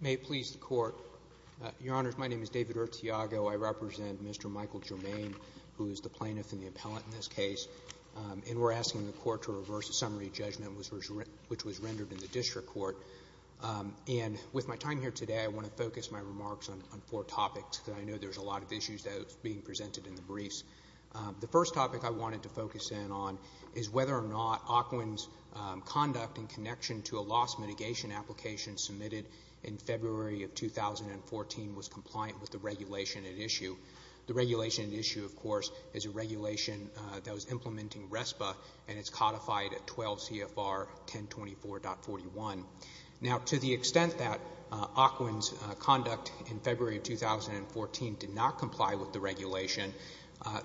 May it please the Court, Your Honors, my name is David Urtiago. I represent Mr. Michael Germain, who is the plaintiff and the appellant in this case, and we're asking the Court to And with my time here today, I want to focus my remarks on four topics that I know there's a lot of issues that are being presented in the briefs. The first topic I wanted to focus in on is whether or not Ocwen's conduct in connection to a loss mitigation application submitted in February of 2014 was compliant with the regulation at issue. The regulation at issue, of course, is a regulation that was implementing RESPA, and it's codified at 12 CFR 1024.41. Now, to the extent that Ocwen's conduct in February of 2014 did not comply with the regulation,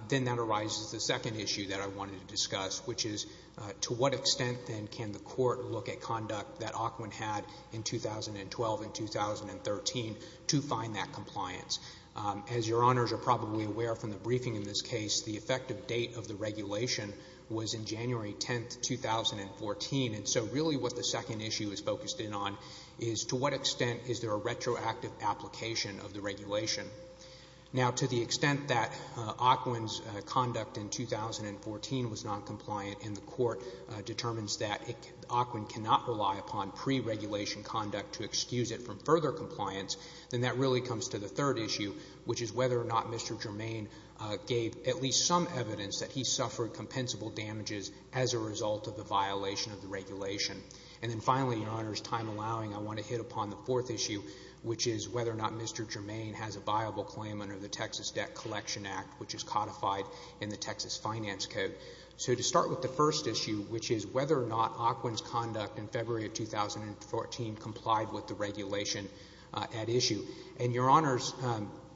then that arises the second issue that I wanted to discuss, which is to what extent, then, can the Court look at conduct that Ocwen had in 2012 and 2013 to find that compliance? As Your Honors are probably aware from the briefing in this case, the effective date of the regulation was in January 10, 2014, and so really what the second issue is focused in on is to what extent is there a retroactive application of the regulation? Now, to the extent that Ocwen's conduct in 2014 was not compliant and the Court determines that Ocwen cannot rely upon preregulation conduct to excuse it from further compliance, then that really comes to the third issue, which is whether or not Mr. Germain gave at least some evidence that he suffered compensable damages as a result of the violation of the regulation. And then finally, Your Honors, time allowing, I want to hit upon the fourth issue, which is whether or not Mr. Germain has a viable claim under the Texas Debt Collection Act, which is codified in the Texas Finance Code. So to start with the first issue, which is whether or not Ocwen's conduct in February of 2014 complied with the regulation at issue, and Your Honors,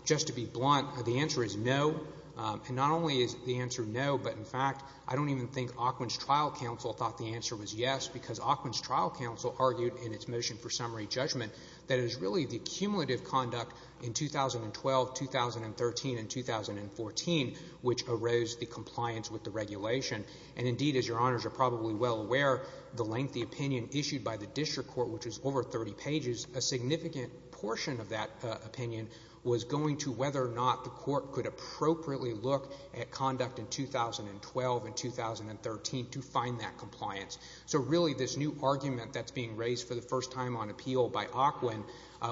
just to be blunt, the answer is no. And not only is the answer no, but in fact, I don't even think Ocwen's trial counsel thought the answer was yes, because Ocwen's trial counsel argued in its motion for summary judgment that it was really the cumulative conduct in 2012, 2013, and 2014, which arose the compliance with the regulation. And indeed, as Your Honors are probably well aware, the lengthy opinion issued by the district court, which is over 30 pages, a significant portion of that opinion was going to whether or not the court could appropriately look at conduct in 2012 and 2013 to find that compliance. So really this new argument that's being raised for the first time on appeal by Ocwen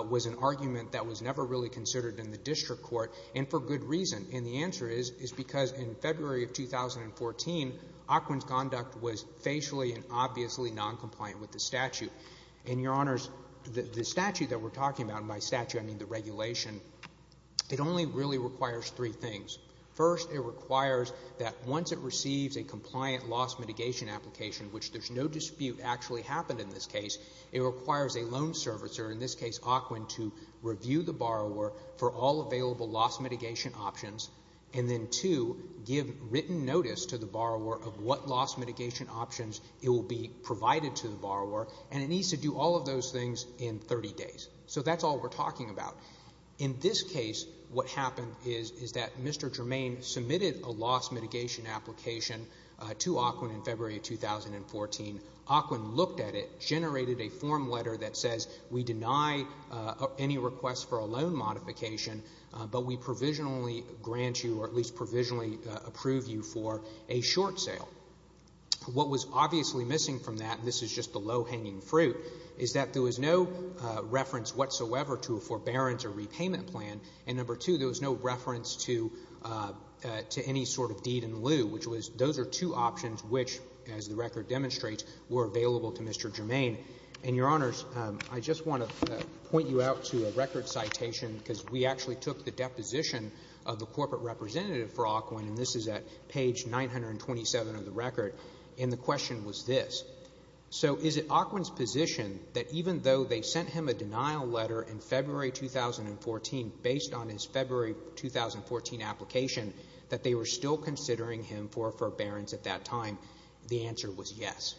was an argument that was never really considered in the district court, and for good reason. And the answer is because in February of 2014, Ocwen's conduct was facially and obviously noncompliant with the statute. And Your Honors, the statute that we're talking about, and by statute I mean the regulation, it only really requires three things. First, it requires that once it receives a compliant loss mitigation application, which there's no dispute actually happened in this case, it requires a loan servicer, in this case Ocwen, to review the borrower for all available loss mitigation options, and then two, give written notice to the borrower of what loss mitigation options it will be provided to the borrower. And it needs to do all of those things in 30 days. So that's all we're talking about. In this case, what happened is that Mr. Germain submitted a loss mitigation application to Ocwen in February of 2014. Ocwen looked at it, generated a form letter that says we deny any request for a loan modification, but we provisionally grant you or at least provisionally approve you for a short sale. What was obviously missing from that, and this is just the low hanging fruit, is that there was no reference whatsoever to a forbearance or repayment plan. And number two, there was no reference to any sort of deed in lieu, which was those are two options which, as the record demonstrates, were available to Mr. Germain. And, Your Honors, I just want to point you out to a record citation because we actually took the deposition of the corporate representative for Ocwen, and this is at page 927 of the record, and the question was this. So is it Ocwen's position that even though they sent him a denial letter in February 2014 based on his February 2014 application that they were still considering him for a forbearance at that time? The answer was yes.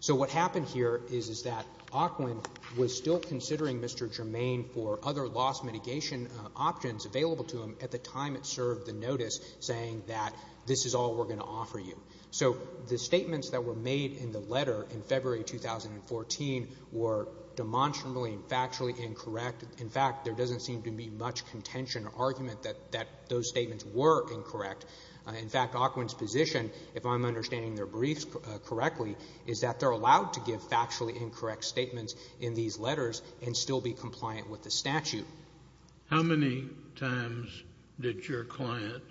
So what happened here is that Ocwen was still considering Mr. Germain for other loss mitigation options available to him at the time it served the notice saying that this is all we're going to offer you. So the statements that were made in the letter in February 2014 were demonstrably and factually incorrect. In fact, there doesn't seem to be much contention or argument that those statements were incorrect. In fact, Ocwen's position, if I'm understanding their briefs correctly, is that they're allowed to give factually incorrect statements in these letters and still be compliant with the statute. How many times did your client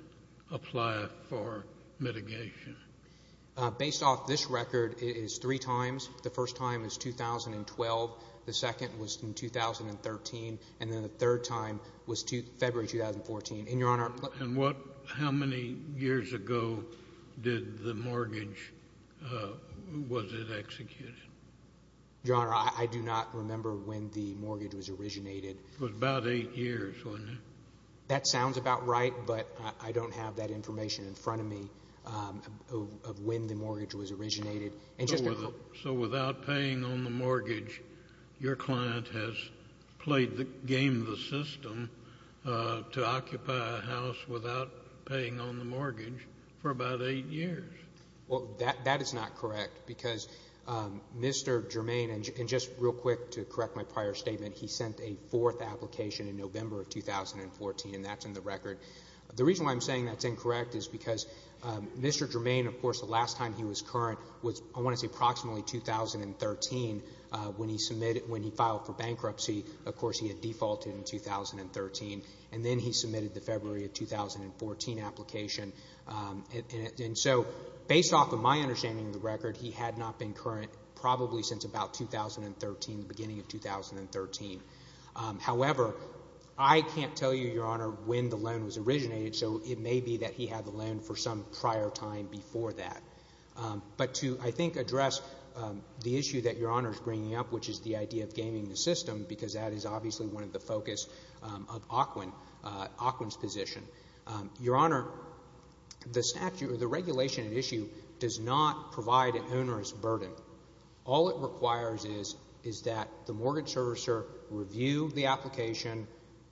apply for mitigation? Based off this record, it is three times. The first time is 2012. The second was in 2013. And then the third time was February 2014. And how many years ago was the mortgage executed? Your Honor, I do not remember when the mortgage was originated. It was about eight years, wasn't it? That sounds about right, but I don't have that information in front of me of when the mortgage was originated. So without paying on the mortgage, your client has played the game of the system to occupy a house without paying on the mortgage for about eight years? Well, that is not correct because Mr. Germain, and just real quick to correct my prior statement, he sent a fourth application in November of 2014, and that's in the record. The reason why I'm saying that's incorrect is because Mr. Germain, of course, the last time he was current was I want to say approximately 2013 when he filed for bankruptcy. Of course, he had defaulted in 2013, and then he submitted the February of 2014 application. And so based off of my understanding of the record, he had not been current probably since about 2013, the beginning of 2013. However, I can't tell you, your Honor, when the loan was originated, so it may be that he had the loan for some prior time before that. But to, I think, address the issue that your Honor is bringing up, which is the idea of gaming the system, because that is obviously one of the focus of Ocwen's position. Your Honor, the statute or the regulation at issue does not provide an onerous burden. All it requires is that the mortgage servicer review the application,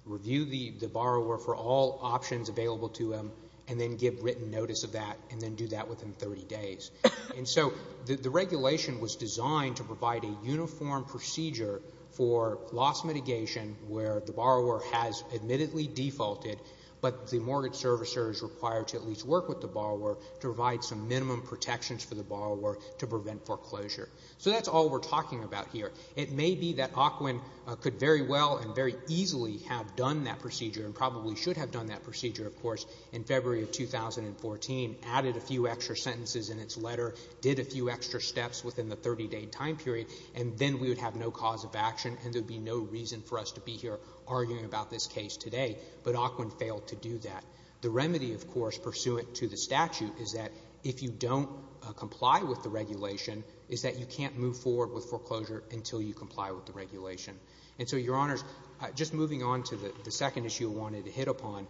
review the borrower for all options available to him, and then give written notice of that and then do that within 30 days. And so the regulation was designed to provide a uniform procedure for loss mitigation where the borrower has admittedly defaulted, but the mortgage servicer is required to at least work with the borrower to provide some minimum protections for the borrower to prevent foreclosure. So that's all we're talking about here. It may be that Ocwen could very well and very easily have done that procedure and probably should have done that procedure, of course, in February of 2014, added a few extra sentences in its letter, did a few extra steps within the 30-day time period, and then we would have no cause of action and there would be no reason for us to be here arguing about this case today. But Ocwen failed to do that. The remedy, of course, pursuant to the statute, is that if you don't comply with the regulation, is that you can't move forward with foreclosure until you comply with the regulation. And so, Your Honors, just moving on to the second issue I wanted to hit upon,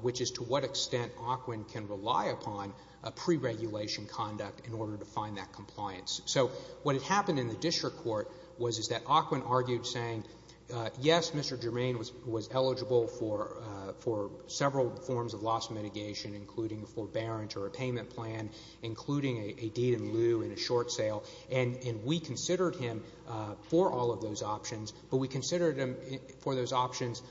which is to what extent Ocwen can rely upon a preregulation conduct in order to find that compliance. So what had happened in the district court was that Ocwen argued saying, yes, Mr. Germain was eligible for several forms of loss mitigation, including a forbearance or a payment plan, including a deed in lieu and a short sale, and we considered him for all of those options, but we considered him for those options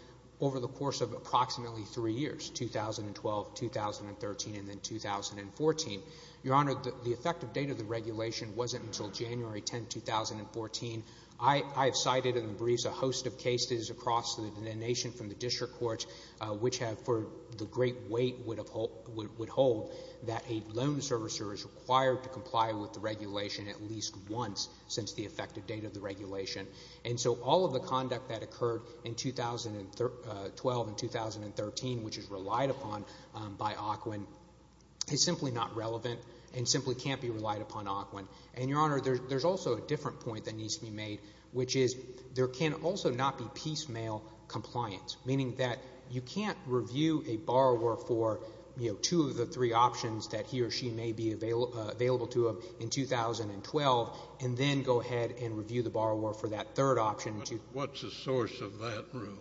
over the course of approximately three years, 2012, 2013, and then 2014. Your Honor, the effective date of the regulation wasn't until January 10, 2014. I have cited in the briefs a host of cases across the nation from the district courts which have for the great weight would hold that a loan servicer is required to comply with the regulation at least once since the effective date of the regulation. And so all of the conduct that occurred in 2012 and 2013, which is relied upon by Ocwen, is simply not relevant and simply can't be relied upon Ocwen. And, Your Honor, there's also a different point that needs to be made, which is there can also not be piecemeal compliance, meaning that you can't review a borrower for two of the three options that he or she may be available to him in 2012 and then go ahead and review the borrower for that third option. What's the source of that rule?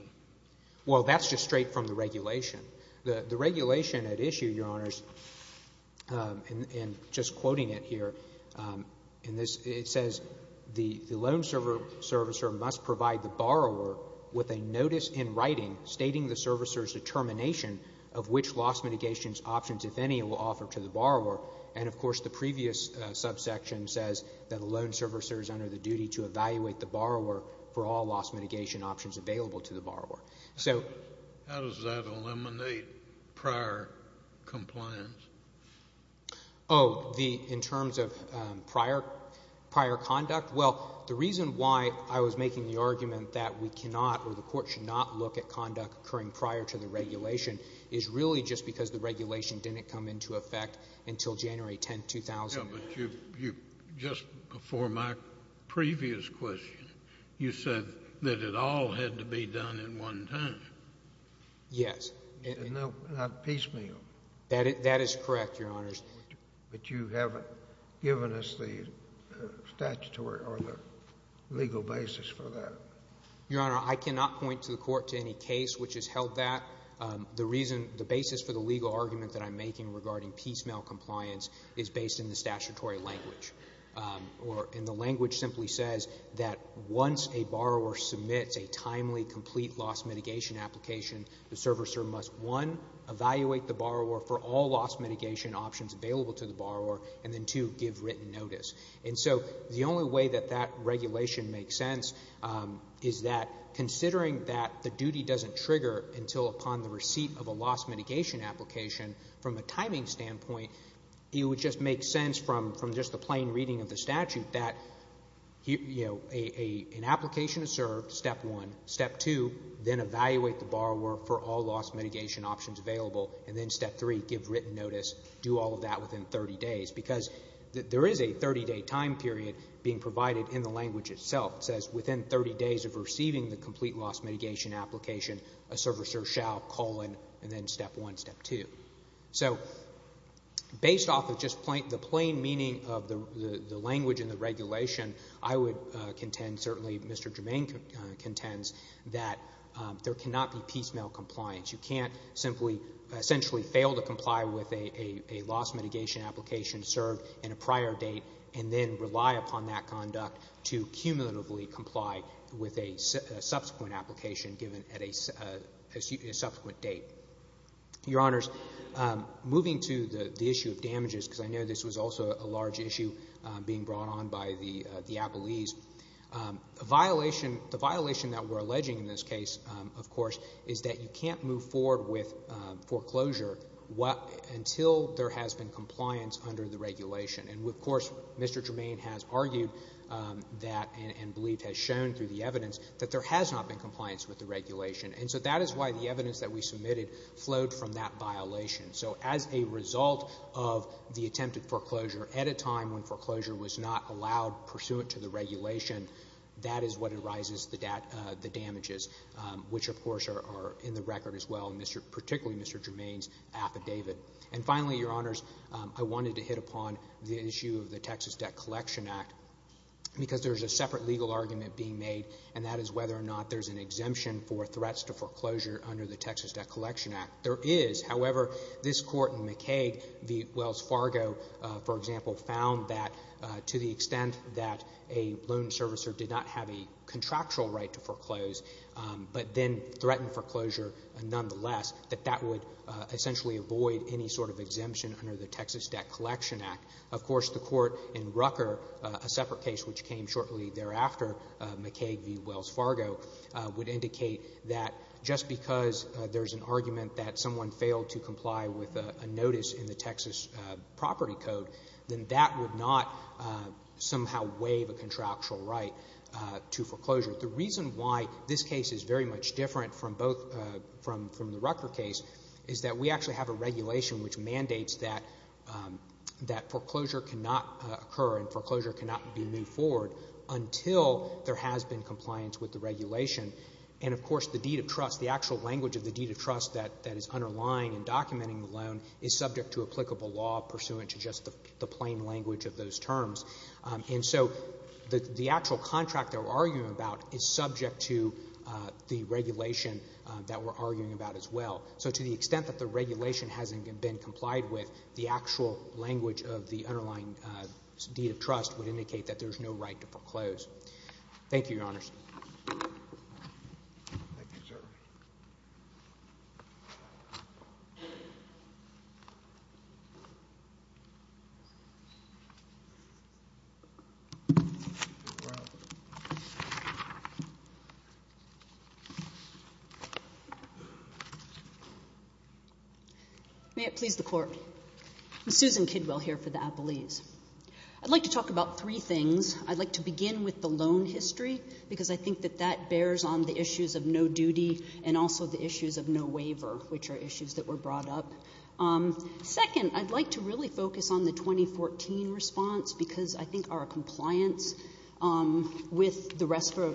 Well, that's just straight from the regulation. The regulation at issue, Your Honors, and just quoting it here, it says the loan servicer must provide the borrower with a notice in writing stating the servicer's determination of which loss mitigation options, if any, it will offer to the borrower. And, of course, the previous subsection says that a loan servicer is under the duty to evaluate the borrower How does that eliminate prior compliance? Oh, in terms of prior conduct? Well, the reason why I was making the argument that we cannot or the court should not look at conduct occurring prior to the regulation is really just because the regulation didn't come into effect until January 10, 2000. But just before my previous question, you said that it all had to be done in one time. Yes. And not piecemeal. That is correct, Your Honors. But you haven't given us the statutory or the legal basis for that. Your Honor, I cannot point to the court to any case which has held that. The reason, the basis for the legal argument that I'm making regarding piecemeal compliance is based in the statutory language. And the language simply says that once a borrower submits a timely, complete loss mitigation application, the servicer must, one, evaluate the borrower for all loss mitigation options available to the borrower, and then, two, give written notice. And so the only way that that regulation makes sense is that considering that the duty doesn't trigger until upon the receipt of a loss mitigation application, from a timing standpoint it would just make sense from just the plain reading of the statute that an application is served, step one. Step two, then evaluate the borrower for all loss mitigation options available. And then step three, give written notice, do all of that within 30 days. Because there is a 30-day time period being provided in the language itself. It says within 30 days of receiving the complete loss mitigation application, a servicer shall, colon, and then step one, step two. So based off of just the plain meaning of the language in the regulation, I would contend, certainly Mr. Germain contends, that there cannot be piecemeal compliance. You can't simply essentially fail to comply with a loss mitigation application served in a prior date and then rely upon that conduct to cumulatively comply with a subsequent application given at a subsequent date. Your Honors, moving to the issue of damages, because I know this was also a large issue being brought on by the appellees, the violation that we're alleging in this case, of course, is that you can't move forward with foreclosure until there has been compliance under the regulation. And, of course, Mr. Germain has argued that and believed has shown through the evidence that there has not been compliance with the regulation. And so that is why the evidence that we submitted flowed from that violation. So as a result of the attempted foreclosure at a time when foreclosure was not allowed pursuant to the regulation, that is what arises, the damages, which, of course, are in the record as well, particularly Mr. Germain's affidavit. And finally, Your Honors, I wanted to hit upon the issue of the Texas Debt Collection Act because there's a separate legal argument being made, and that is whether or not there's an exemption for threats to foreclosure under the Texas Debt Collection Act. There is. However, this Court in McCaig v. Wells Fargo, for example, found that to the extent that a loan servicer did not have a contractual right to foreclose but then threatened foreclosure nonetheless, that that would essentially avoid any sort of exemption under the Texas Debt Collection Act. Of course, the Court in Rucker, a separate case which came shortly thereafter, McCaig v. Wells Fargo, would indicate that just because there's an argument that someone failed to comply with a notice in the Texas Property Code, then that would not somehow waive a contractual right to foreclosure. The reason why this case is very much different from the Rucker case is that we actually have a regulation which mandates that foreclosure cannot occur and foreclosure cannot be moved forward until there has been compliance with the regulation. And, of course, the deed of trust, the actual language of the deed of trust that is underlying in documenting the loan is subject to applicable law pursuant to just the plain language of those terms. And so the actual contract they were arguing about is subject to the regulation that we're arguing about as well. So to the extent that the regulation hasn't been complied with, the actual language of the underlying deed of trust would indicate that there's no right to foreclose. Thank you, Your Honors. Thank you, sir. May it please the Court. I'm Susan Kidwell here for the Appellees. I'd like to talk about three things. I'd like to begin with the loan history because I think that that bears on the issues of no duty and also the issues of no waiver, which are issues that were brought up. Second, I'd like to really focus on the 2014 response because I think our compliance with the rest of our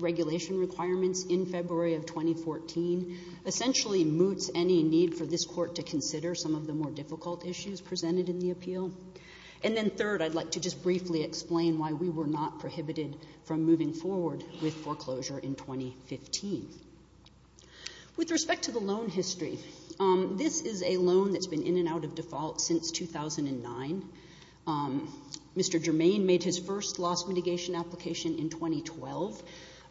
regulation requirements in February of 2014 essentially moots any need for this Court to consider some of the more difficult issues presented in the appeal. And then third, I'd like to just briefly explain why we were not prohibited from moving forward with foreclosure in 2015. With respect to the loan history, this is a loan that's been in and out of default since 2009. Mr. Germain made his first loss mitigation application in 2012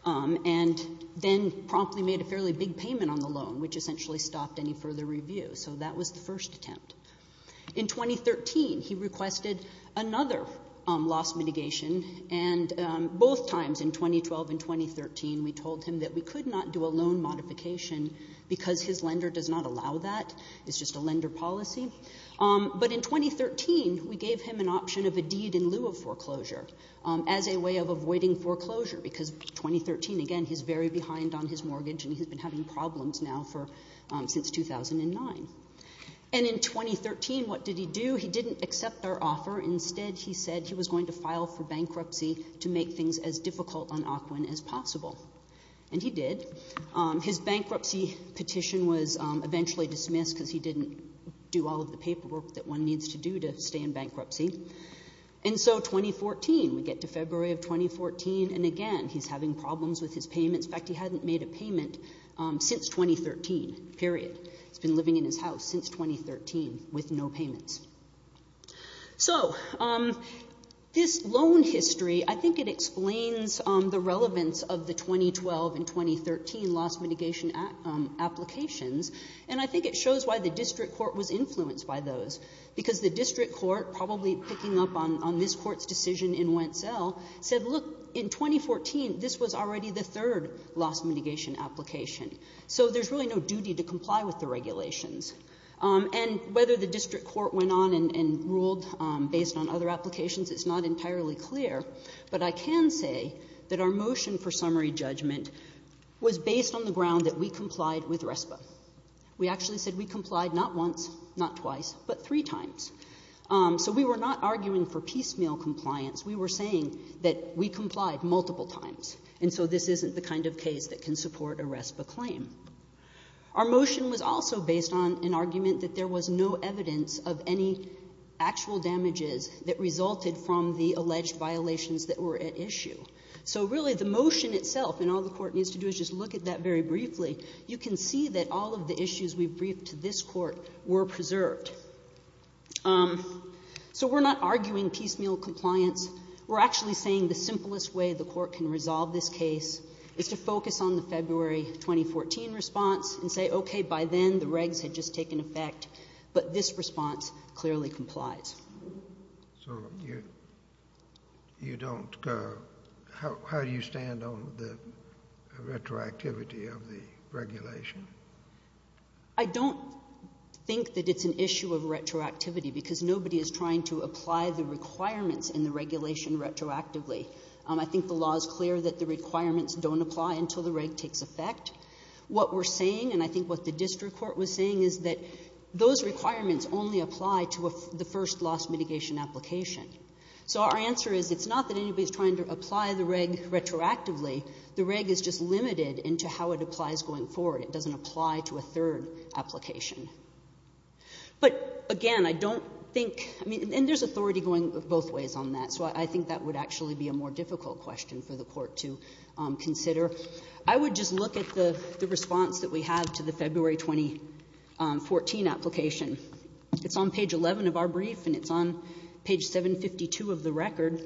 and then promptly made a fairly big payment on the loan, which essentially stopped any further review. So that was the first attempt. In 2013, he requested another loss mitigation, and both times, in 2012 and 2013, we told him that we could not do a loan modification because his lender does not allow that. It's just a lender policy. But in 2013, we gave him an option of a deed in lieu of foreclosure as a way of avoiding foreclosure because in 2013, again, he's very behind on his mortgage and he's been having problems now since 2009. And in 2013, what did he do? He didn't accept our offer. Instead, he said he was going to file for bankruptcy to make things as difficult on Ocwen as possible. And he did. His bankruptcy petition was eventually dismissed because he didn't do all of the paperwork that one needs to do to stay in bankruptcy. And so 2014, we get to February of 2014, and again, he's having problems with his payments. In fact, he hadn't made a payment since 2013, period. He's been living in his house since 2013 with no payments. So this loan history, I think it explains the relevance of the 2012 and 2013 loss mitigation applications, and I think it shows why the district court was influenced by those because the district court, probably picking up on this court's decision in Wentzell, said, look, in 2014, this was already the third loss mitigation application. So there's really no duty to comply with the regulations. And whether the district court went on and ruled based on other applications is not entirely clear, but I can say that our motion for summary judgment was based on the ground that we complied with RESPA. We actually said we complied not once, not twice, but three times. So we were not arguing for piecemeal compliance. We were saying that we complied multiple times, and so this isn't the kind of case that can support a RESPA claim. Our motion was also based on an argument that there was no evidence of any actual damages that resulted from the alleged violations that were at issue. So really the motion itself, and all the court needs to do is just look at that very briefly, you can see that all of the issues we've briefed to this court were preserved. So we're not arguing piecemeal compliance. We're actually saying the simplest way the court can resolve this case is to focus on the February 2014 response and say, okay, by then the regs had just taken effect, but this response clearly complies. So you don't... How do you stand on the retroactivity of the regulation? I don't think that it's an issue of retroactivity because nobody is trying to apply the requirements in the regulation retroactively. I think the law is clear that the requirements don't apply until the reg takes effect. What we're saying, and I think what the district court was saying, is that those requirements only apply to the first loss mitigation application. So our answer is it's not that anybody's trying to apply the reg retroactively. The reg is just limited into how it applies going forward. It doesn't apply to a third application. But, again, I don't think... And there's authority going both ways on that, so I think that would actually be a more difficult question for the court to consider. I would just look at the response that we have to the February 2014 application. It's on page 11 of our brief, and it's on page 752 of the record.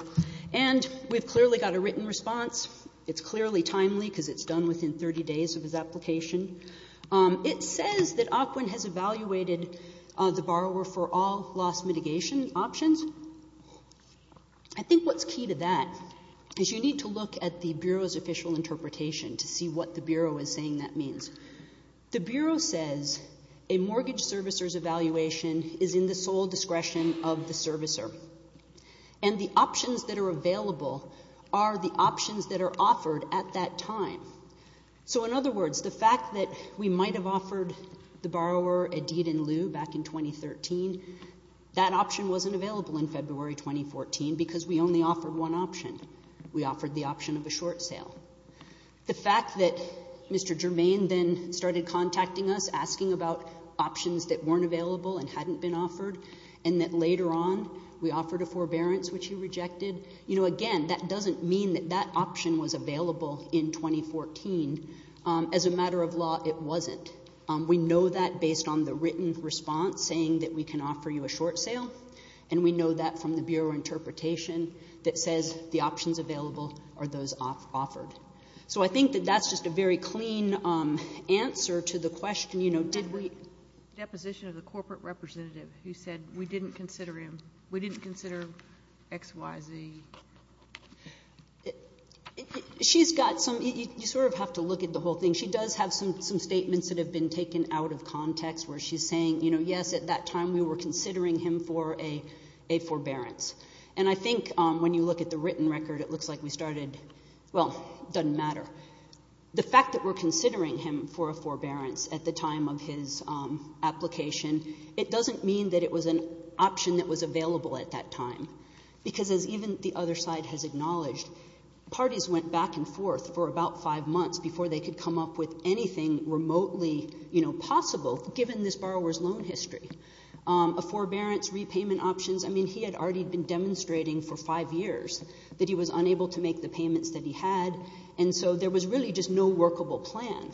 And we've clearly got a written response. It's clearly timely because it's done within 30 days of his application. It says that Ocwen has evaluated the borrower for all loss mitigation options. I think what's key to that is you need to look at the Bureau's official interpretation to see what the Bureau is saying that means. The Bureau says a mortgage servicer's evaluation is in the sole discretion of the servicer, and the options that are available are the options that are offered at that time. So, in other words, the fact that we might have offered the borrower a deed in lieu back in 2013, that option wasn't available in February 2014 because we only offered one option. We offered the option of a short sale. The fact that Mr. Germain then started contacting us, asking about options that weren't available and hadn't been offered, and that later on we offered a forbearance which he rejected, again, that doesn't mean that that option was available in 2014. As a matter of law, it wasn't. We know that based on the written response saying that we can offer you a short sale, and we know that from the Bureau interpretation that says the options available are those offered. So I think that that's just a very clean answer to the question, you know, did we... Deposition of the corporate representative who said we didn't consider him, we didn't consider X, Y, Z. She's got some... You sort of have to look at the whole thing. She does have some statements that have been taken out of context where she's saying, you know, yes, at that time we were considering him for a forbearance. And I think when you look at the written record, it looks like we started... Well, doesn't matter. The fact that we're considering him for a forbearance at the time of his application, it doesn't mean that it was an option that was available at that time because, as even the other side has acknowledged, parties went back and forth for about five months before they could come up with anything remotely, you know, possible given this borrower's loan history. A forbearance, repayment options, I mean, he had already been demonstrating for five years that he was unable to make the payments that he had, and so there was really just no workable plan.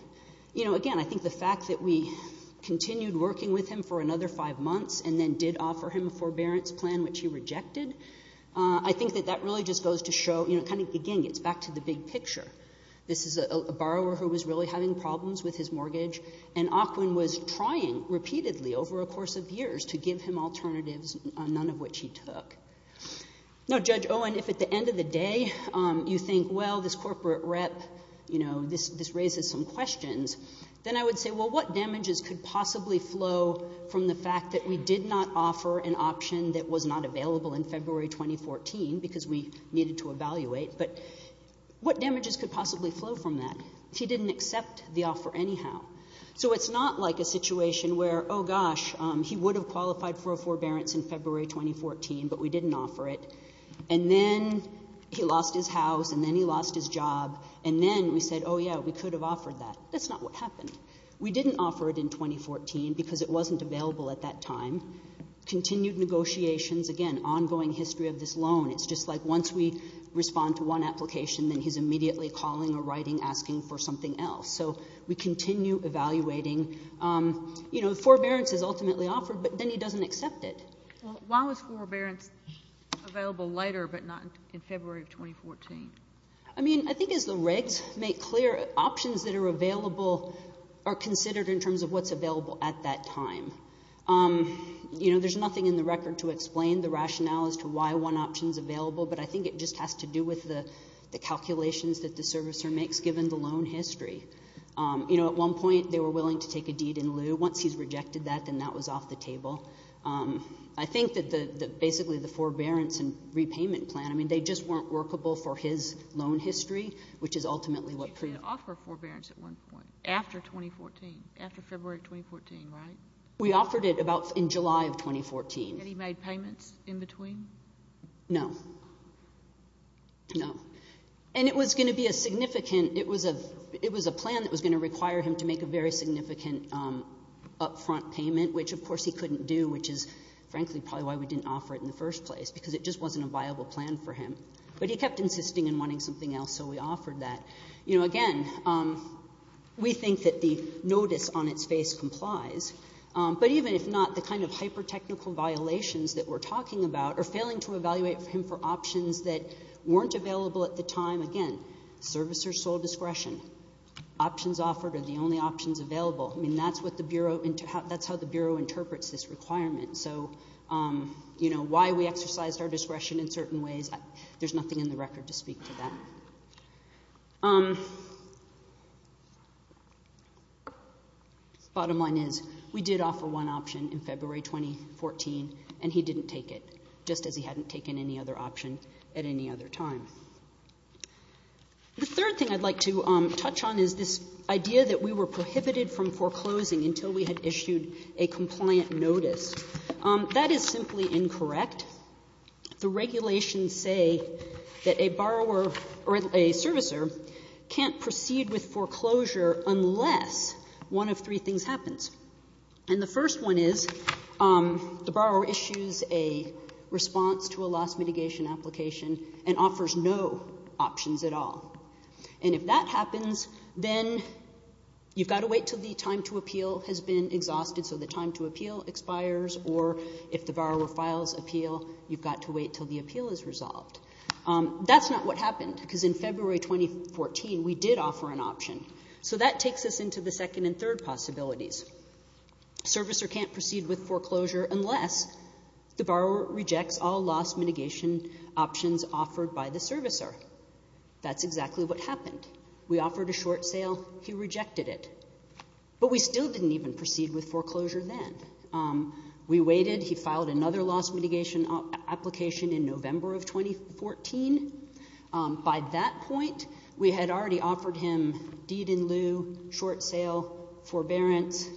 You know, again, I think the fact that we continued working with him for another five months and then did offer him a forbearance plan, which he rejected, I think that that really just goes to show... Again, it's back to the big picture. This is a borrower who was really having problems with his mortgage, and Ockwin was trying repeatedly over a course of years to give him alternatives, none of which he took. Now, Judge Owen, if at the end of the day you think, well, this corporate rep, you know, this raises some questions, then I would say, well, what damages could possibly flow from the fact that we did not offer an option that was not available in February 2014 because we needed to evaluate, but what damages could possibly flow from that? He didn't accept the offer anyhow. So it's not like a situation where, oh, gosh, he would have qualified for a forbearance in February 2014, but we didn't offer it, and then he lost his house and then he lost his job, and then we said, oh, yeah, we could have offered that. That's not what happened. We didn't offer it in 2014 because it wasn't available at that time. Continued negotiations. Again, ongoing history of this loan. It's just like once we respond to one application, then he's immediately calling or writing asking for something else. So we continue evaluating. You know, forbearance is ultimately offered, but then he doesn't accept it. Why was forbearance available later but not in February of 2014? I mean, I think as the regs make clear, options that are available are considered in terms of what's available at that time. You know, there's nothing in the record to explain the rationale as to why one option is available, but I think it just has to do with the calculations that the servicer makes given the loan history. You know, at one point, they were willing to take a deed in lieu. Once he's rejected that, then that was off the table. I think that basically the forbearance and repayment plan, I mean, they just weren't workable for his loan history, which is ultimately what... You didn't offer forbearance at one point after 2014, after February 2014, right? We offered it about in July of 2014. And he made payments in between? No. No. And it was going to be a significant... It was a plan that was going to require him to make a very significant upfront payment, which, of course, he couldn't do, which is, frankly, probably why we didn't offer it in the first place, because it just wasn't a viable plan for him. But he kept insisting in wanting something else, so we offered that. You know, again, we think that the notice on its face complies, but even if not, the kind of hyper-technical violations that we're talking about are failing to evaluate him for options that weren't available at the time. Again, service or sole discretion. Options offered are the only options available. I mean, that's what the Bureau... That's how the Bureau interprets this requirement. So, you know, why we exercised our discretion in certain ways, there's nothing in the record to speak to that. Bottom line is, we did offer one option in February 2014, and he didn't take it, just as he hadn't taken any other option at any other time. The third thing I'd like to touch on is this idea that we were prohibited from foreclosing until we had issued a compliant notice. That is simply incorrect. The regulations say that a borrower or a servicer can't proceed with foreclosure unless one of three things happens. And the first one is, the borrower issues a response to a loss mitigation application and offers no options at all. And if that happens, then you've got to wait till the time to appeal has been exhausted, so the time to appeal expires, or if the borrower files appeal, you've got to wait till the appeal is resolved. That's not what happened, because in February 2014, we did offer an option. So that takes us into the second and third possibilities. A servicer can't proceed with foreclosure unless the borrower rejects all loss mitigation options offered by the servicer. That's exactly what happened. We offered a short sale. He rejected it. But we still didn't even proceed with foreclosure then. We waited. He filed another loss mitigation application in November of 2014. By that point, we had already offered him deed in lieu, short sale, forbearance.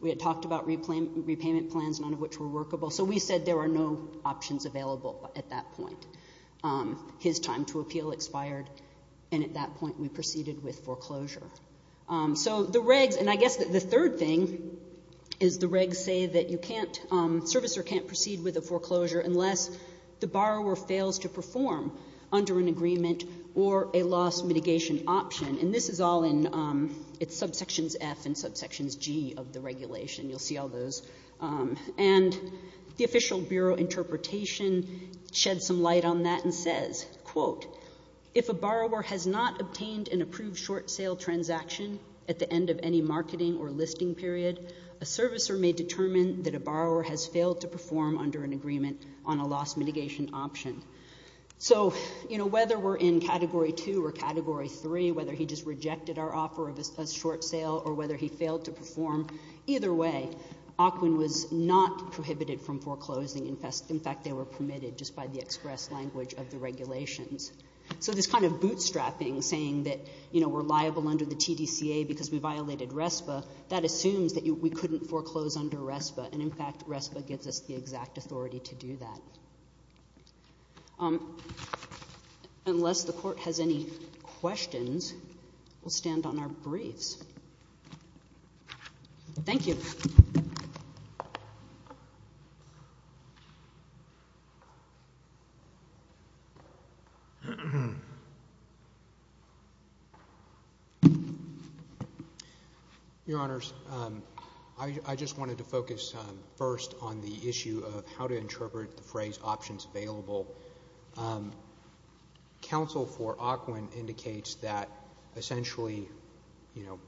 We had talked about repayment plans, none of which were workable. So we said there were no options available at that point. His time to appeal expired, and at that point we proceeded with foreclosure. So the regs... And I guess the third thing is the regs say that you can't... A servicer can't proceed with a foreclosure unless the borrower fails to perform under an agreement or a loss mitigation option. And this is all in... It's subsections F and subsections G of the regulation. You'll see all those. And the official Bureau interpretation sheds some light on that and says, quote, if a borrower has not obtained an approved short sale transaction at the end of any marketing or listing period, a servicer may determine that a borrower has failed to perform under an agreement on a loss mitigation option. So, you know, whether we're in Category 2 or Category 3, whether he just rejected our offer of a short sale or whether he failed to perform, either way, OCWIN was not prohibited from foreclosing. In fact, they were permitted just by the express language of the regulations. So this kind of bootstrapping, saying that, you know, we're liable under the TDCA because we violated RESPA, that assumes that we couldn't foreclose under RESPA, and, in fact, RESPA gives us the exact authority to do that. Unless the Court has any questions, we'll stand on our briefs. Thank you. Thank you. Your Honors, I just wanted to focus first on the issue of how to interpret the phrase options available. Counsel for OCWIN indicates that, essentially, you know,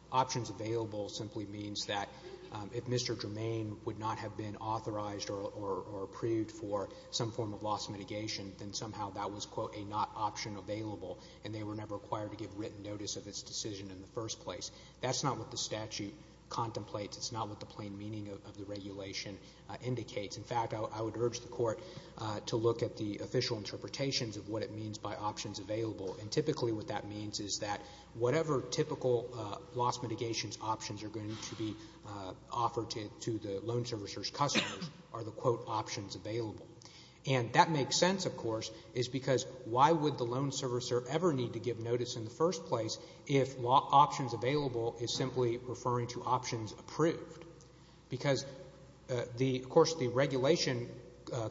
if Mr. Germain would not have been authorized or approved for some form of loss mitigation, then somehow that was, quote, a not option available, and they were never required to give written notice of its decision in the first place. That's not what the statute contemplates. It's not what the plain meaning of the regulation indicates. In fact, I would urge the Court to look at the official interpretations of what it means by options available, and typically what that means is that whatever typical loss mitigation options are going to be offered to the loan servicer's customers are the, quote, options available. And that makes sense, of course, is because why would the loan servicer ever need to give notice in the first place if options available is simply referring to options approved? Because, of course, the regulation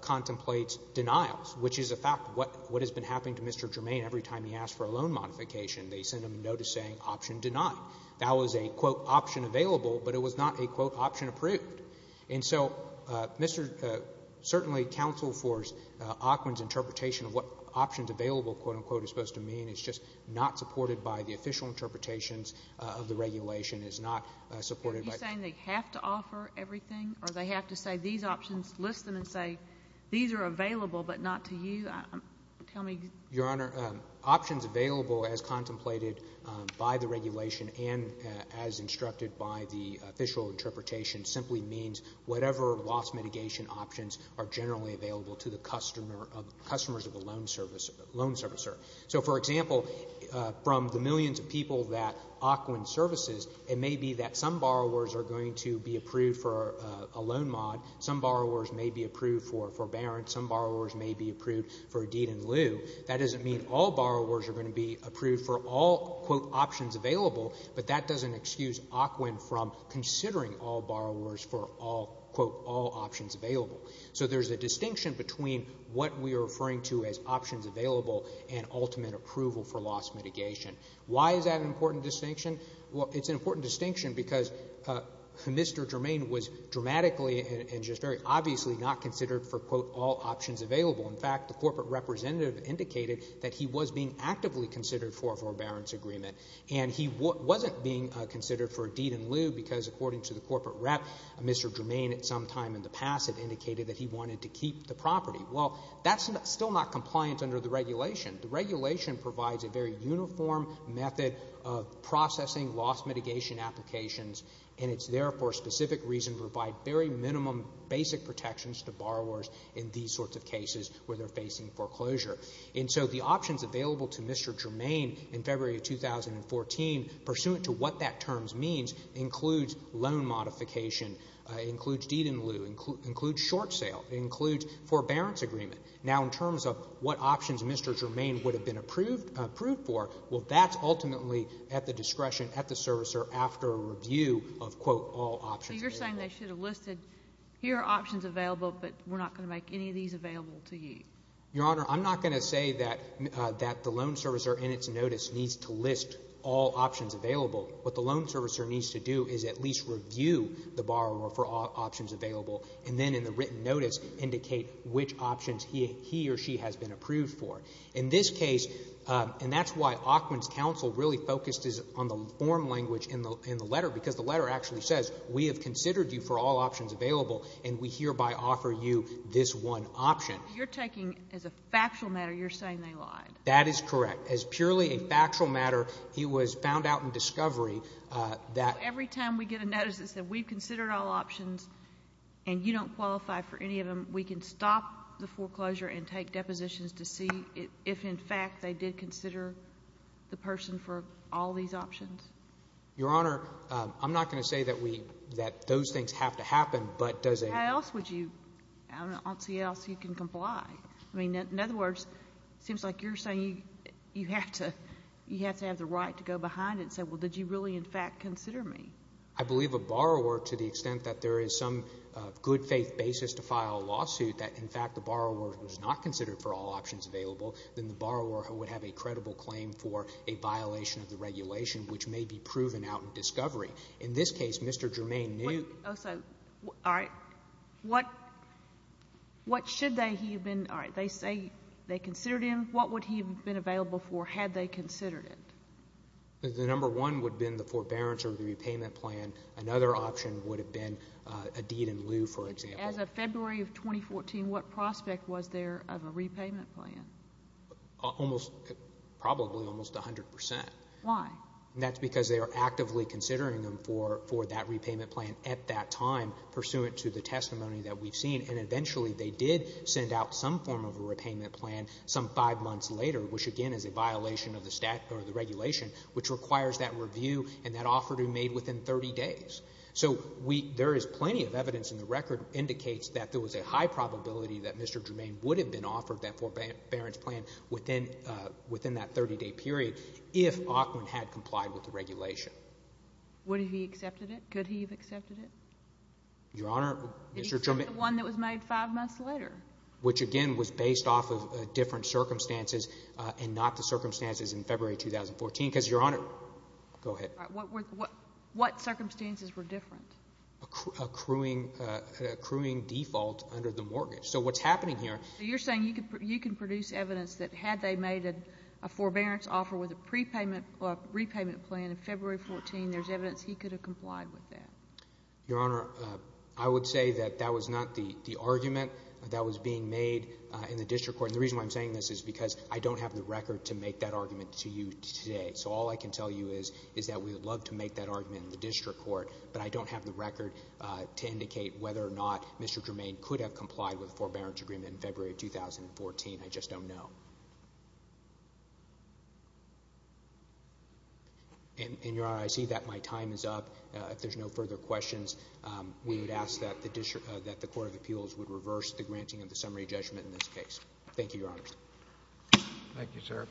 contemplates denials, which is a fact. What has been happening to Mr. Germain every time he asked for a loan modification, they sent him a notice saying option denied. That was a, quote, option available, but it was not a, quote, option approved. And so certainly counsel for Ockman's interpretation of what options available, quote-unquote, is supposed to mean is just not supported by the official interpretations of the regulation, is not supported by... Are you saying they have to offer everything, or they have to say these options, list them, and say these are available but not to you? Your Honor, options available, as contemplated by the regulation, and as instructed by the official interpretation, simply means whatever loss mitigation options are generally available to the customers of the loan servicer. So, for example, from the millions of people that Ockman services, it may be that some borrowers are going to be approved for a loan mod, some borrowers may be approved for a forbearance, some borrowers may be approved for a deed in lieu. That doesn't mean all borrowers are going to be approved for all, quote, options available, but that doesn't excuse Ockman from considering all borrowers for all, quote, all options available. So there's a distinction between what we are referring to as options available and ultimate approval for loss mitigation. Why is that an important distinction? Well, it's an important distinction because Mr. Germain was dramatically and just very obviously not considered for, quote, all options available. In fact, the corporate representative indicated that he was being actively considered for a forbearance agreement, and he wasn't being considered for a deed in lieu because, according to the corporate rep, Mr. Germain at some time in the past had indicated that he wanted to keep the property. Well, that's still not compliant under the regulation. The regulation provides a very uniform method of processing loss mitigation applications, and it's there for a specific reason to provide very minimum basic protections to borrowers in these sorts of cases where they're facing foreclosure. And so the options available to Mr. Germain in February of 2014, pursuant to what that term means, includes loan modification, includes deed in lieu, includes short sale, includes forbearance agreement. Now, in terms of what options Mr. Germain would have been approved for, well, that's ultimately at the discretion, at the servicer, after a review of, quote, all options available. So you're saying they should have listed, here are options available, but we're not going to make any of these available to you? Your Honor, I'm not going to say that the loan servicer in its notice needs to list all options available. What the loan servicer needs to do is at least review the borrower for all options available and then in the written notice indicate which options he or she has been approved for. In this case, and that's why Aukman's counsel really focused on the form language in the letter, because the letter actually says we have considered you for all options available and we hereby offer you this one option. So what you're taking as a factual matter, you're saying they lied. That is correct. As purely a factual matter, he was found out in discovery that... Every time we get a notice that says we've considered all options and you don't qualify for any of them, we can stop the foreclosure and take depositions to see if, in fact, they did consider the person for all these options? Your Honor, I'm not going to say that those things have to happen, but does... How else would you, I don't see how else you can comply? I mean, in other words, it seems like you're saying you have to have the right to go behind it and say, well, did you really, in fact, consider me? I believe a borrower, to the extent that there is some good faith basis to file a lawsuit that, in fact, the borrower was not considered for all options available, then the borrower would have a credible claim for a violation of the regulation, which may be proven out in discovery. In this case, Mr. Germain knew... All right, what should they have been... All right, they say they considered him. What would he have been available for had they considered it? The number one would have been the forbearance or the repayment plan. Another option would have been a deed in lieu, for example. As of February of 2014, what prospect was there of a repayment plan? Probably almost 100%. Why? That's because they are actively considering him for that repayment plan at that time, pursuant to the testimony that we've seen, and eventually they did send out some form of a repayment plan some five months later, which, again, is a violation of the regulation, which requires that review and that offer to be made within 30 days. So there is plenty of evidence, and the record indicates that there was a high probability that Mr. Germain would have been offered that forbearance plan within that 30-day period if Aukman had complied with the regulation. Would he have accepted it? Could he have accepted it? Your Honor, Mr. Germain... Except the one that was made five months later. Which, again, was based off of different circumstances and not the circumstances in February 2014 because, Your Honor... go ahead. What circumstances were different? A accruing default under the mortgage. So what's happening here... So you're saying you can produce evidence that had they made a forbearance offer with a repayment plan in February 2014, there's evidence he could have complied with that. Your Honor, I would say that that was not the argument that was being made in the district court, and the reason why I'm saying this is because I don't have the record to make that argument to you today. So all I can tell you is that we would love to make that argument in the district court, but I don't have the record to indicate whether or not Mr. Germain could have complied with a forbearance agreement in February 2014. I just don't know. And, Your Honor, I see that my time is up. If there's no further questions, we would ask that the Court of Appeals would reverse the granting of the summary judgment in this case. Thank you, Your Honor. Thank you, sir.